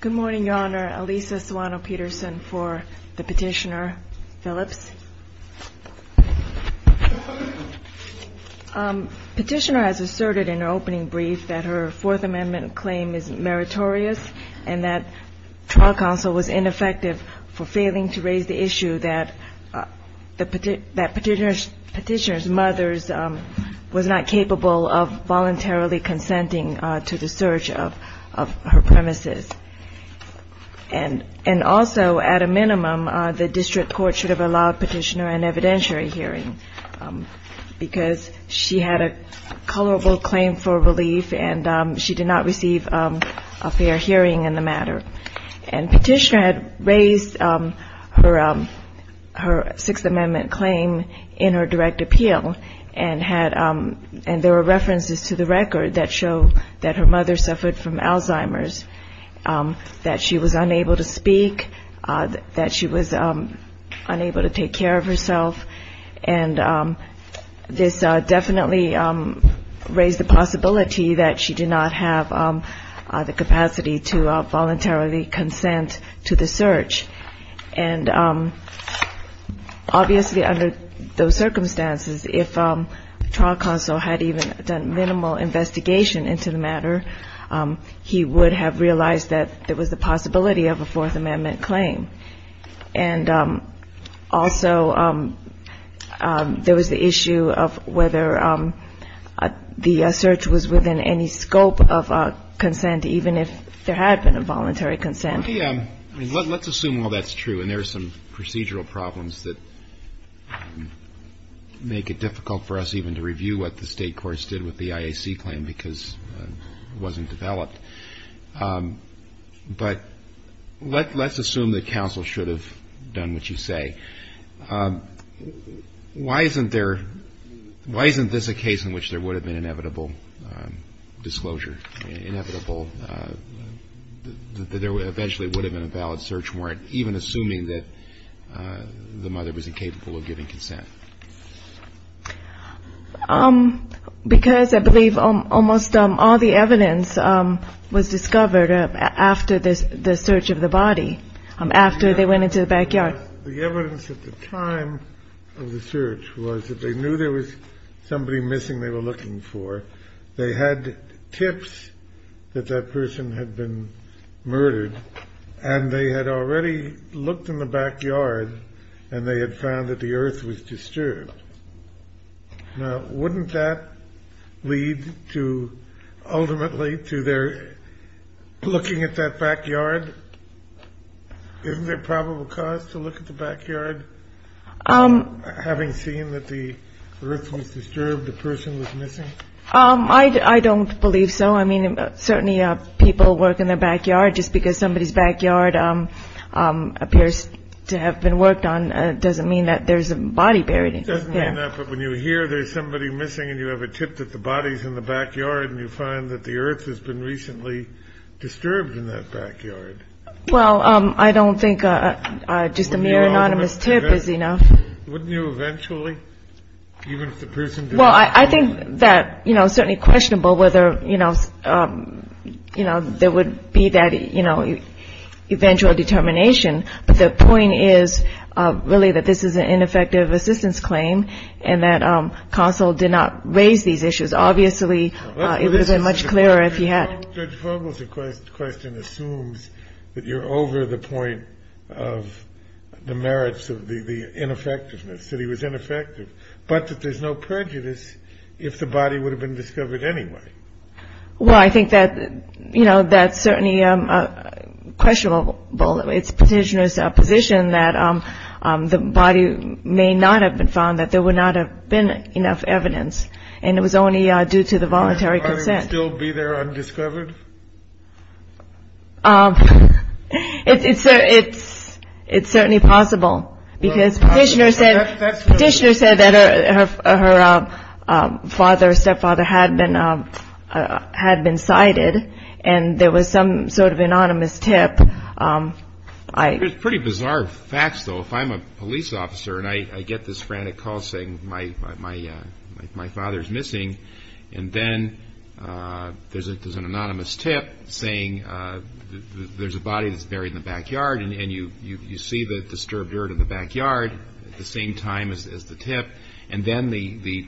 Good morning, Your Honor. Alisa Soano-Peterson for the Petitioner. Phillips. Petitioner has asserted in her opening brief that her Fourth Amendment claim is meritorious and that trial counsel was ineffective for the search of her premises. And also, at a minimum, the district court should have allowed Petitioner an evidentiary hearing because she had a culpable claim for relief and she did not receive a fair hearing in the matter. And Petitioner had raised her Sixth Amendment claim in her Alzheimer's, that she was unable to speak, that she was unable to take care of herself. And this definitely raised the possibility that she did not have the capacity to voluntarily consent to the search. And obviously, under those circumstances, if trial counsel had even done minimal investigation into the matter, he would have realized that there was the possibility of a Fourth Amendment claim. And also, there was the issue of whether the search was within any scope of consent, even if there had been a voluntary consent. Let's assume all that's true and there's some procedural problems that make it difficult for us even to review what the state courts did with the IAC claim because it wasn't developed. But let's assume that counsel should have done what you say. Why isn't there, why isn't this a case in which there would have been inevitable disclosure, inevitable, that there eventually would have been a valid search warrant, even assuming that the mother was incapable of giving consent? Because I believe almost all the evidence was discovered after the search of the body, after they went into the backyard. But the evidence at the time of the search was that they knew there was somebody missing they were looking for. They had tips that that person had been murdered, and they had already looked in the backyard, and they had found that the earth was disturbed. Now, wouldn't that lead to, ultimately, to their looking at that backyard? Isn't there probable cause to look at the backyard? Having seen that the earth was disturbed, the person was missing? I don't believe so. I mean, certainly people work in their backyard. Just because somebody's backyard appears to have been worked on doesn't mean that there's a body buried in it. It doesn't mean that, but when you hear there's somebody missing, and you have a tip that the body's in the backyard, and you find that the earth has been recently disturbed in that backyard. Well, I don't think just a mere anonymous tip is enough. Wouldn't you eventually, even if the person didn't... Well, I think that, you know, certainly questionable whether, you know, there would be that, you know, eventual determination. But the point is, really, that this is an ineffective assistance claim, and that Consell did not raise these issues. Obviously, it would have been much clearer if he had. Judge Vogel's question assumes that you're over the point of the merits of the ineffectiveness, that he was ineffective, but that there's no prejudice if the body would have been discovered anyway. Well, I think that, you know, that's certainly questionable. It's Petitioner's position that the body may not have been found, that there would not have been enough evidence, and it was only due to the voluntary consent. Would the body still be there undiscovered? It's certainly possible, because Petitioner said that her father or stepfather had been sighted, and there was some sort of anonymous tip. There's pretty bizarre facts, though. If I'm a police officer and I get this frantic call saying my father's missing, and then there's an anonymous tip saying there's a body that's buried in the backyard, and you see the disturbed dirt in the backyard at the same time as the tip, and then the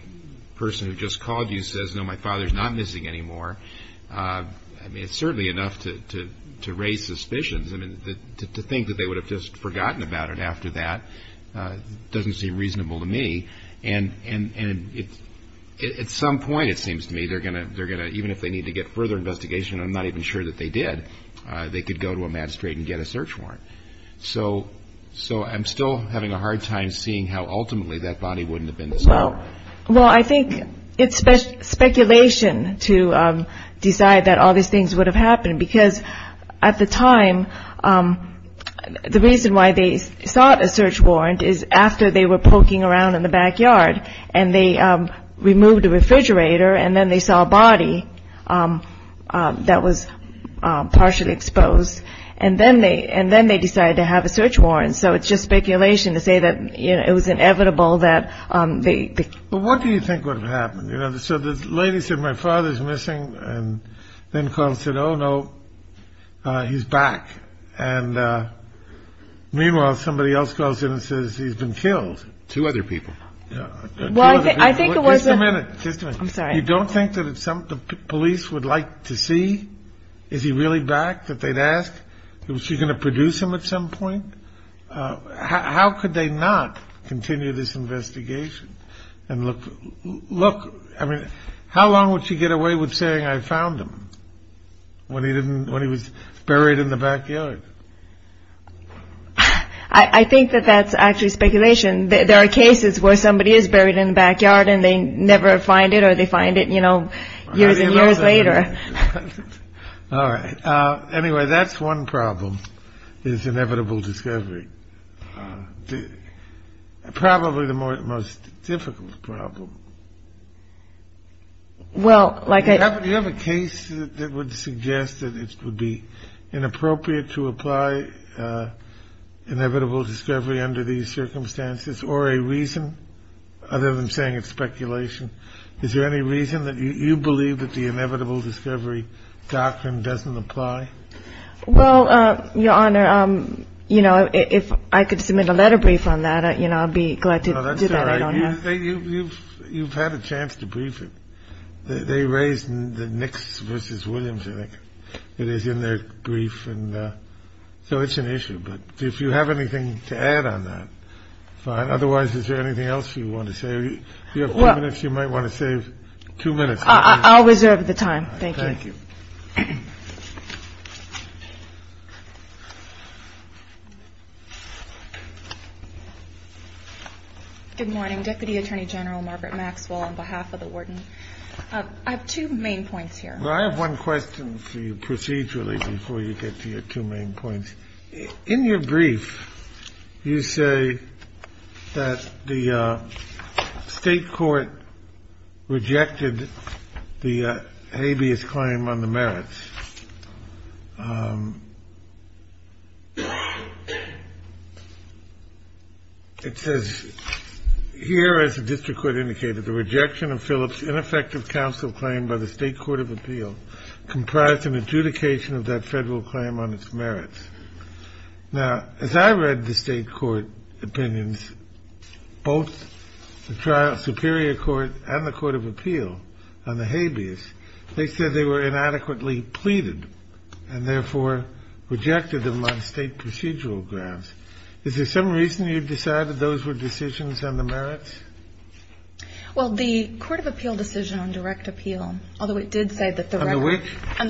person who just called you says, no, my father's not missing anymore, I mean, it's certainly enough to raise suspicions. I mean, to think that they would have just forgotten about it after that doesn't seem reasonable to me. And at some point, it seems to me, they're going to, even if they need to get further investigation, and I'm not even sure that they did, they could go to a magistrate and get a search warrant. So I'm still having a hard time seeing how ultimately that body wouldn't have been discovered. Well, I think it's speculation to decide that all these things would have happened, because at the time, the reason why they sought a search warrant is after they were poking around in the backyard, and they removed the refrigerator, and then they saw a body that was partially exposed, and then they decided to have a search warrant. So it's just speculation to say that it was inevitable that they. But what do you think would have happened? You know, so the lady said, my father's missing and then called said, oh, no, he's back. And meanwhile, somebody else calls in and says he's been killed. Two other people. Well, I think it was. Just a minute. I'm sorry. You don't think that it's something the police would like to see? Is he really back that they'd ask? Was she going to produce him at some point? How could they not continue this investigation? And look, look. I mean, how long would she get away with saying I found him when he didn't when he was buried in the backyard? I think that that's actually speculation. There are cases where somebody is buried in the backyard and they never find it or they find it, you know, years and years later. All right. Anyway, that's one problem is inevitable discovery. The probably the most difficult problem. Well, like you have a case that would suggest that it would be inappropriate to apply inevitable discovery under these circumstances or a reason. I'm saying it's speculation. Is there any reason that you believe that the inevitable discovery doctrine doesn't apply? Well, Your Honor, you know, if I could submit a letter brief on that, you know, I'd be glad to do that. I don't know. You've had a chance to brief it. They raised the Knicks versus Williams. I think it is in their brief. And so it's an issue. But if you have anything to add on that. Fine. Otherwise, is there anything else you want to say? You have minutes. You might want to save two minutes. I'll reserve the time. Thank you. Good morning. Deputy Attorney General Margaret Maxwell on behalf of the warden. I have two main points here. I have one question for you procedurally before you get to your two main points in your brief. You say that the state court rejected the habeas claim on the merits. It says here, as the district court indicated, the rejection of Phillips ineffective counsel claim by the state court of appeal comprised an adjudication of that federal claim on its merits. Now, as I read the state court opinions, both the trial superior court and the court of appeal on the habeas, they said they were inadequately pleaded and, therefore, rejected them on state procedural grounds. Is there some reason you decided those were decisions on the merits? Well, the court of appeal decision on direct appeal, although it did say that the direct appeal. On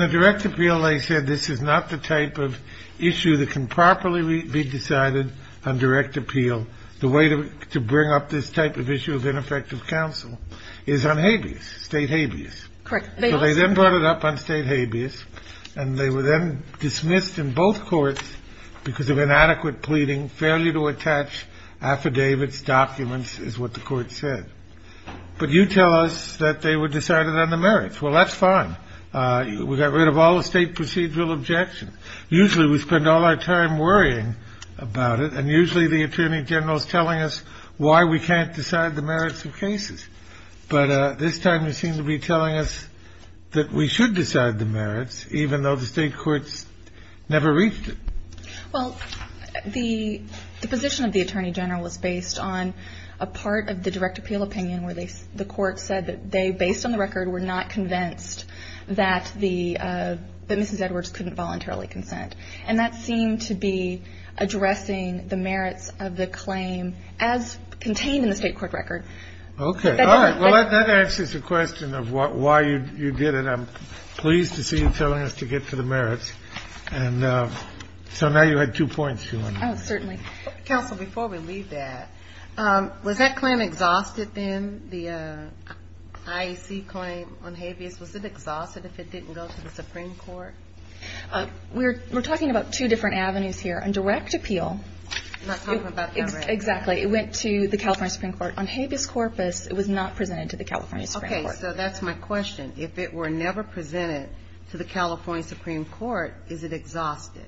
the direct appeal, they said this is not the type of issue that can properly be decided on direct appeal. The way to bring up this type of issue of ineffective counsel is on habeas, state habeas. Correct. So they then brought it up on state habeas, and they were then dismissed in both courts because of inadequate pleading, failure to attach affidavits, documents, is what the court said. But you tell us that they were decided on the merits. Well, that's fine. We got rid of all the state procedural objections. Usually we spend all our time worrying about it, and usually the attorney general is telling us why we can't decide the merits of cases. But this time they seem to be telling us that we should decide the merits, even though the state courts never reached it. Well, the position of the attorney general was based on a part of the direct appeal opinion where the court said that they, based on the record, were not convinced that the Mrs. Edwards couldn't voluntarily consent. And that seemed to be addressing the merits of the claim as contained in the state court record. Okay. All right. Well, that answers the question of why you did it. I'm pleased to see you telling us to get to the merits. And so now you had two points, Joanna. Oh, certainly. Counsel, before we leave that, was that claim exhausted then? The IEC claim on habeas, was it exhausted if it didn't go to the Supreme Court? We're talking about two different avenues here. On direct appeal. I'm not talking about direct appeal. Exactly. It went to the California Supreme Court. On habeas corpus, it was not presented to the California Supreme Court. Okay. So that's my question. If it were never presented to the California Supreme Court, is it exhausted?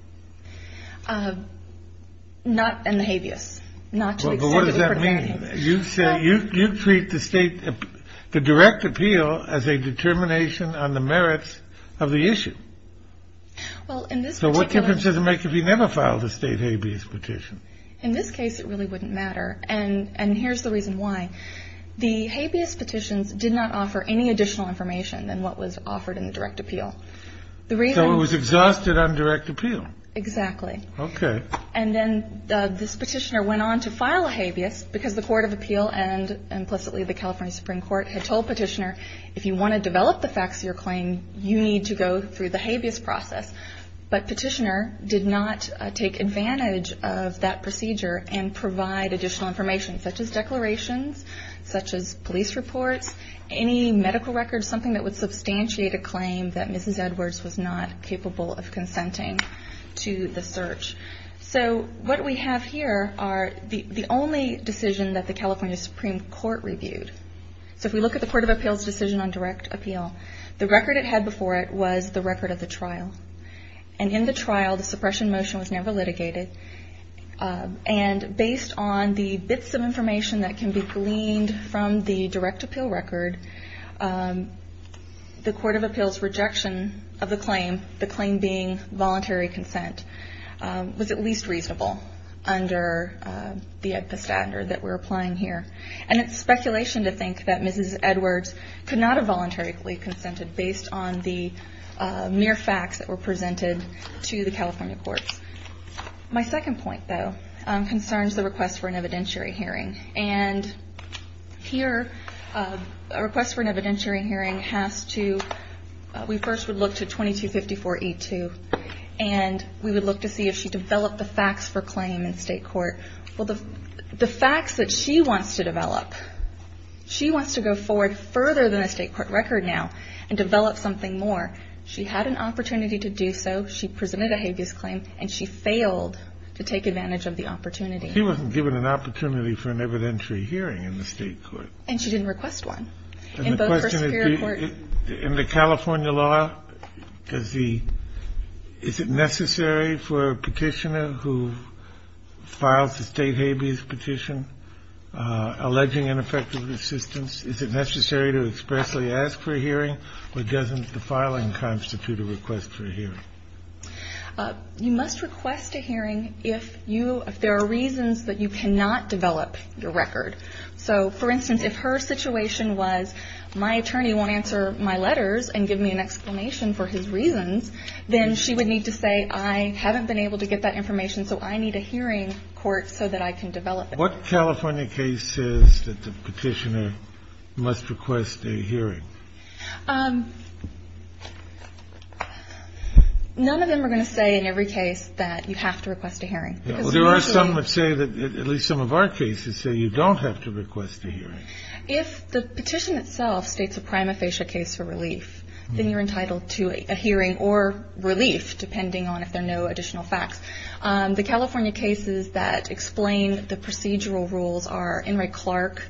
Not in the habeas. Not to the extent of the court of habeas. You said you treat the state, the direct appeal as a determination on the merits of the issue. Well, in this particular case. So what difference does it make if you never filed a state habeas petition? In this case, it really wouldn't matter. And here's the reason why. The habeas petitions did not offer any additional information than what was offered in the direct appeal. The reason. So it was exhausted on direct appeal. Exactly. Okay. And then this petitioner went on to file a habeas because the court of appeal and implicitly the California Supreme Court had told petitioner, if you want to develop the facts of your claim, you need to go through the habeas process. But petitioner did not take advantage of that procedure and provide additional information, such as declarations, such as police reports, any medical records, or something that would substantiate a claim that Mrs. Edwards was not capable of consenting to the search. So what we have here are the only decision that the California Supreme Court reviewed. So if we look at the court of appeals decision on direct appeal, the record it had before it was the record of the trial. And in the trial, the suppression motion was never litigated. And based on the bits of information that can be gleaned from the direct appeal record, the court of appeals rejection of the claim, the claim being voluntary consent, was at least reasonable under the standard that we're applying here. And it's speculation to think that Mrs. Edwards could not have voluntarily consented based on the mere facts that were presented to the California courts. My second point, though, concerns the request for an evidentiary hearing. And here, a request for an evidentiary hearing has to, we first would look to 2254E2. And we would look to see if she developed the facts for claim in state court. Well, the facts that she wants to develop, she wants to go forward further than the state court record now and develop something more. She had an opportunity to do so. She presented a habeas claim, and she failed to take advantage of the opportunity. She wasn't given an opportunity for an evidentiary hearing in the state court. And she didn't request one. And the question is, in the California law, does the – is it necessary for a petitioner who files a state habeas petition alleging ineffective assistance, is it necessary to expressly ask for a hearing, or doesn't the filing constitute a request for a hearing? You must request a hearing if you – if there are reasons that you cannot develop your record. So, for instance, if her situation was, my attorney won't answer my letters and give me an explanation for his reasons, then she would need to say, I haven't been able to get that information, so I need a hearing court so that I can develop it. What California case says that the petitioner must request a hearing? None of them are going to say in every case that you have to request a hearing. There are some that say that – at least some of our cases say you don't have to request a hearing. If the petition itself states a prima facie case for relief, then you're entitled to a hearing or relief, depending on if there are no additional facts. The California cases that explain the procedural rules are Enright-Clark.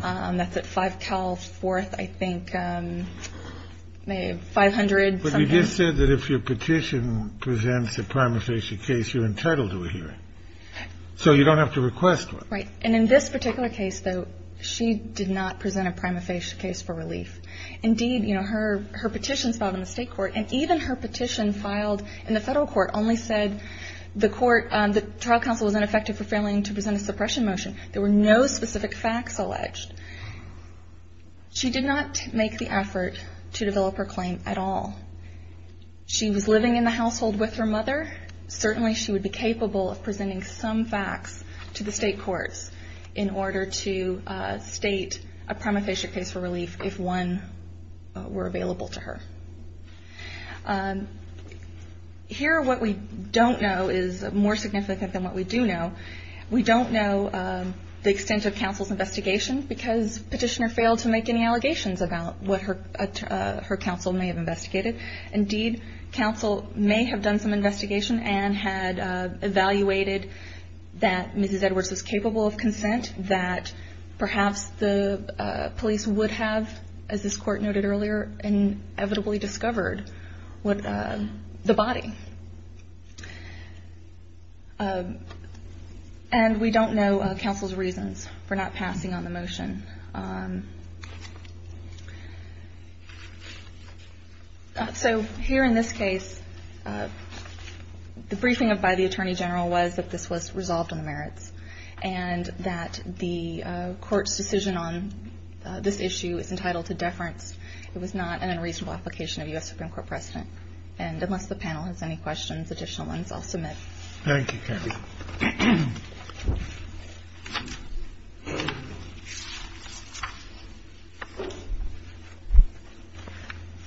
That's at 5 Cal 4th, I think, 500 something. But you just said that if your petition presents a prima facie case, you're entitled to a hearing. So you don't have to request one. Right. And in this particular case, though, she did not present a prima facie case for relief. Indeed, you know, her – her petitions filed in the state court, and even her petition filed in the federal court only said the court – the trial counsel was ineffective for failing to present a suppression motion. There were no specific facts alleged. She did not make the effort to develop her claim at all. She was living in the household with her mother. Certainly she would be capable of presenting some facts to the state courts in order to state a prima facie case for relief if one were available to her. Here what we don't know is more significant than what we do know. We don't know the extent of counsel's investigation because Petitioner failed to make any allegations about what her counsel may have investigated. Indeed, counsel may have done some investigation and that perhaps the police would have, as this court noted earlier, inevitably discovered the body. And we don't know counsel's reasons for not passing on the motion. So here in this case, the briefing by the attorney general was that this was resolved on the merits and that the court's decision on this issue is entitled to deference. It was not an unreasonable application of U.S. Supreme Court precedent. And unless the panel has any questions, additional ones, I'll submit. Thank you, Kathy.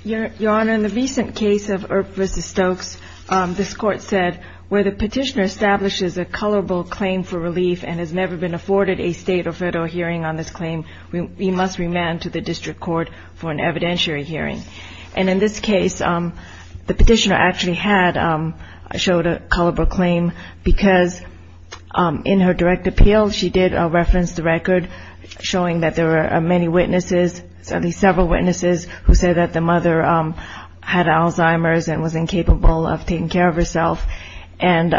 Your Honor, in the recent case of Earp v. Stokes, this Court said where the Petitioner establishes a colorable claim for relief and has never been afforded a state or federal hearing on this claim, we must remand to the district court for an evidentiary hearing. And in this case, the Petitioner actually had showed a colorable claim because in her direct appeal, she did reference the record showing that there were many witnesses, at least several witnesses who said that the mother had Alzheimer's and was incapable of taking care of herself. And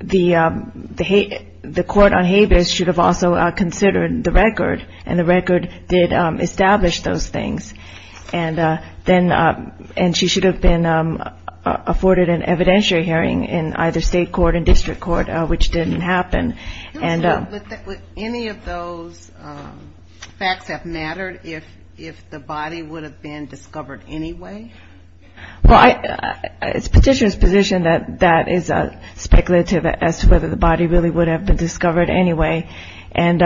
the court on Habeas should have also considered the record, and the record did establish those things. And she should have been afforded an evidentiary hearing in either state court and district court, which didn't happen. Would any of those facts have mattered if the body would have been discovered anyway? Well, it's Petitioner's position that that is speculative as to whether the body really would have been discovered anyway. And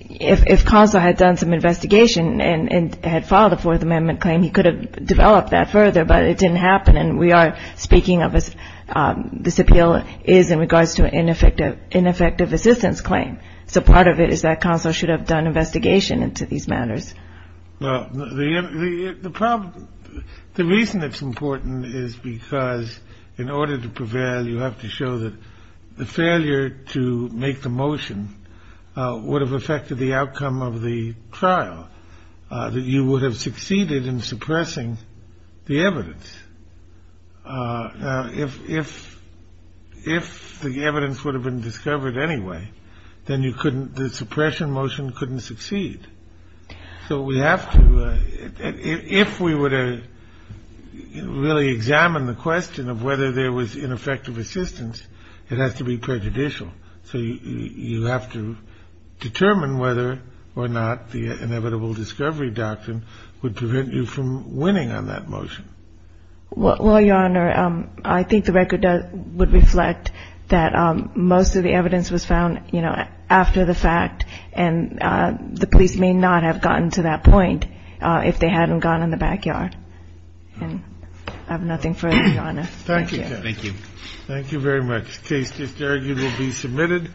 if Conso had done some investigation and had filed a Fourth Amendment claim, he could have developed that further, but it didn't happen. And we are speaking of this appeal is in regards to an ineffective assistance claim. So part of it is that Conso should have done investigation into these matters. Well, the reason it's important is because in order to prevail, you have to show that the failure to make the motion would have affected the outcome of the trial, that you would have succeeded in suppressing the evidence. Now, if the evidence would have been discovered anyway, then the suppression motion couldn't succeed. So we have to – if we were to really examine the question of whether there was ineffective assistance, it has to be prejudicial. So you have to determine whether or not the inevitable discovery doctrine would prevent you from winning on that motion. Well, Your Honor, I think the record would reflect that most of the evidence was found, you know, after the fact and the police may not have gotten to that point if they hadn't gone in the backyard. And I have nothing further, Your Honor. Thank you. Thank you. Thank you very much. The case is there. You will be submitted.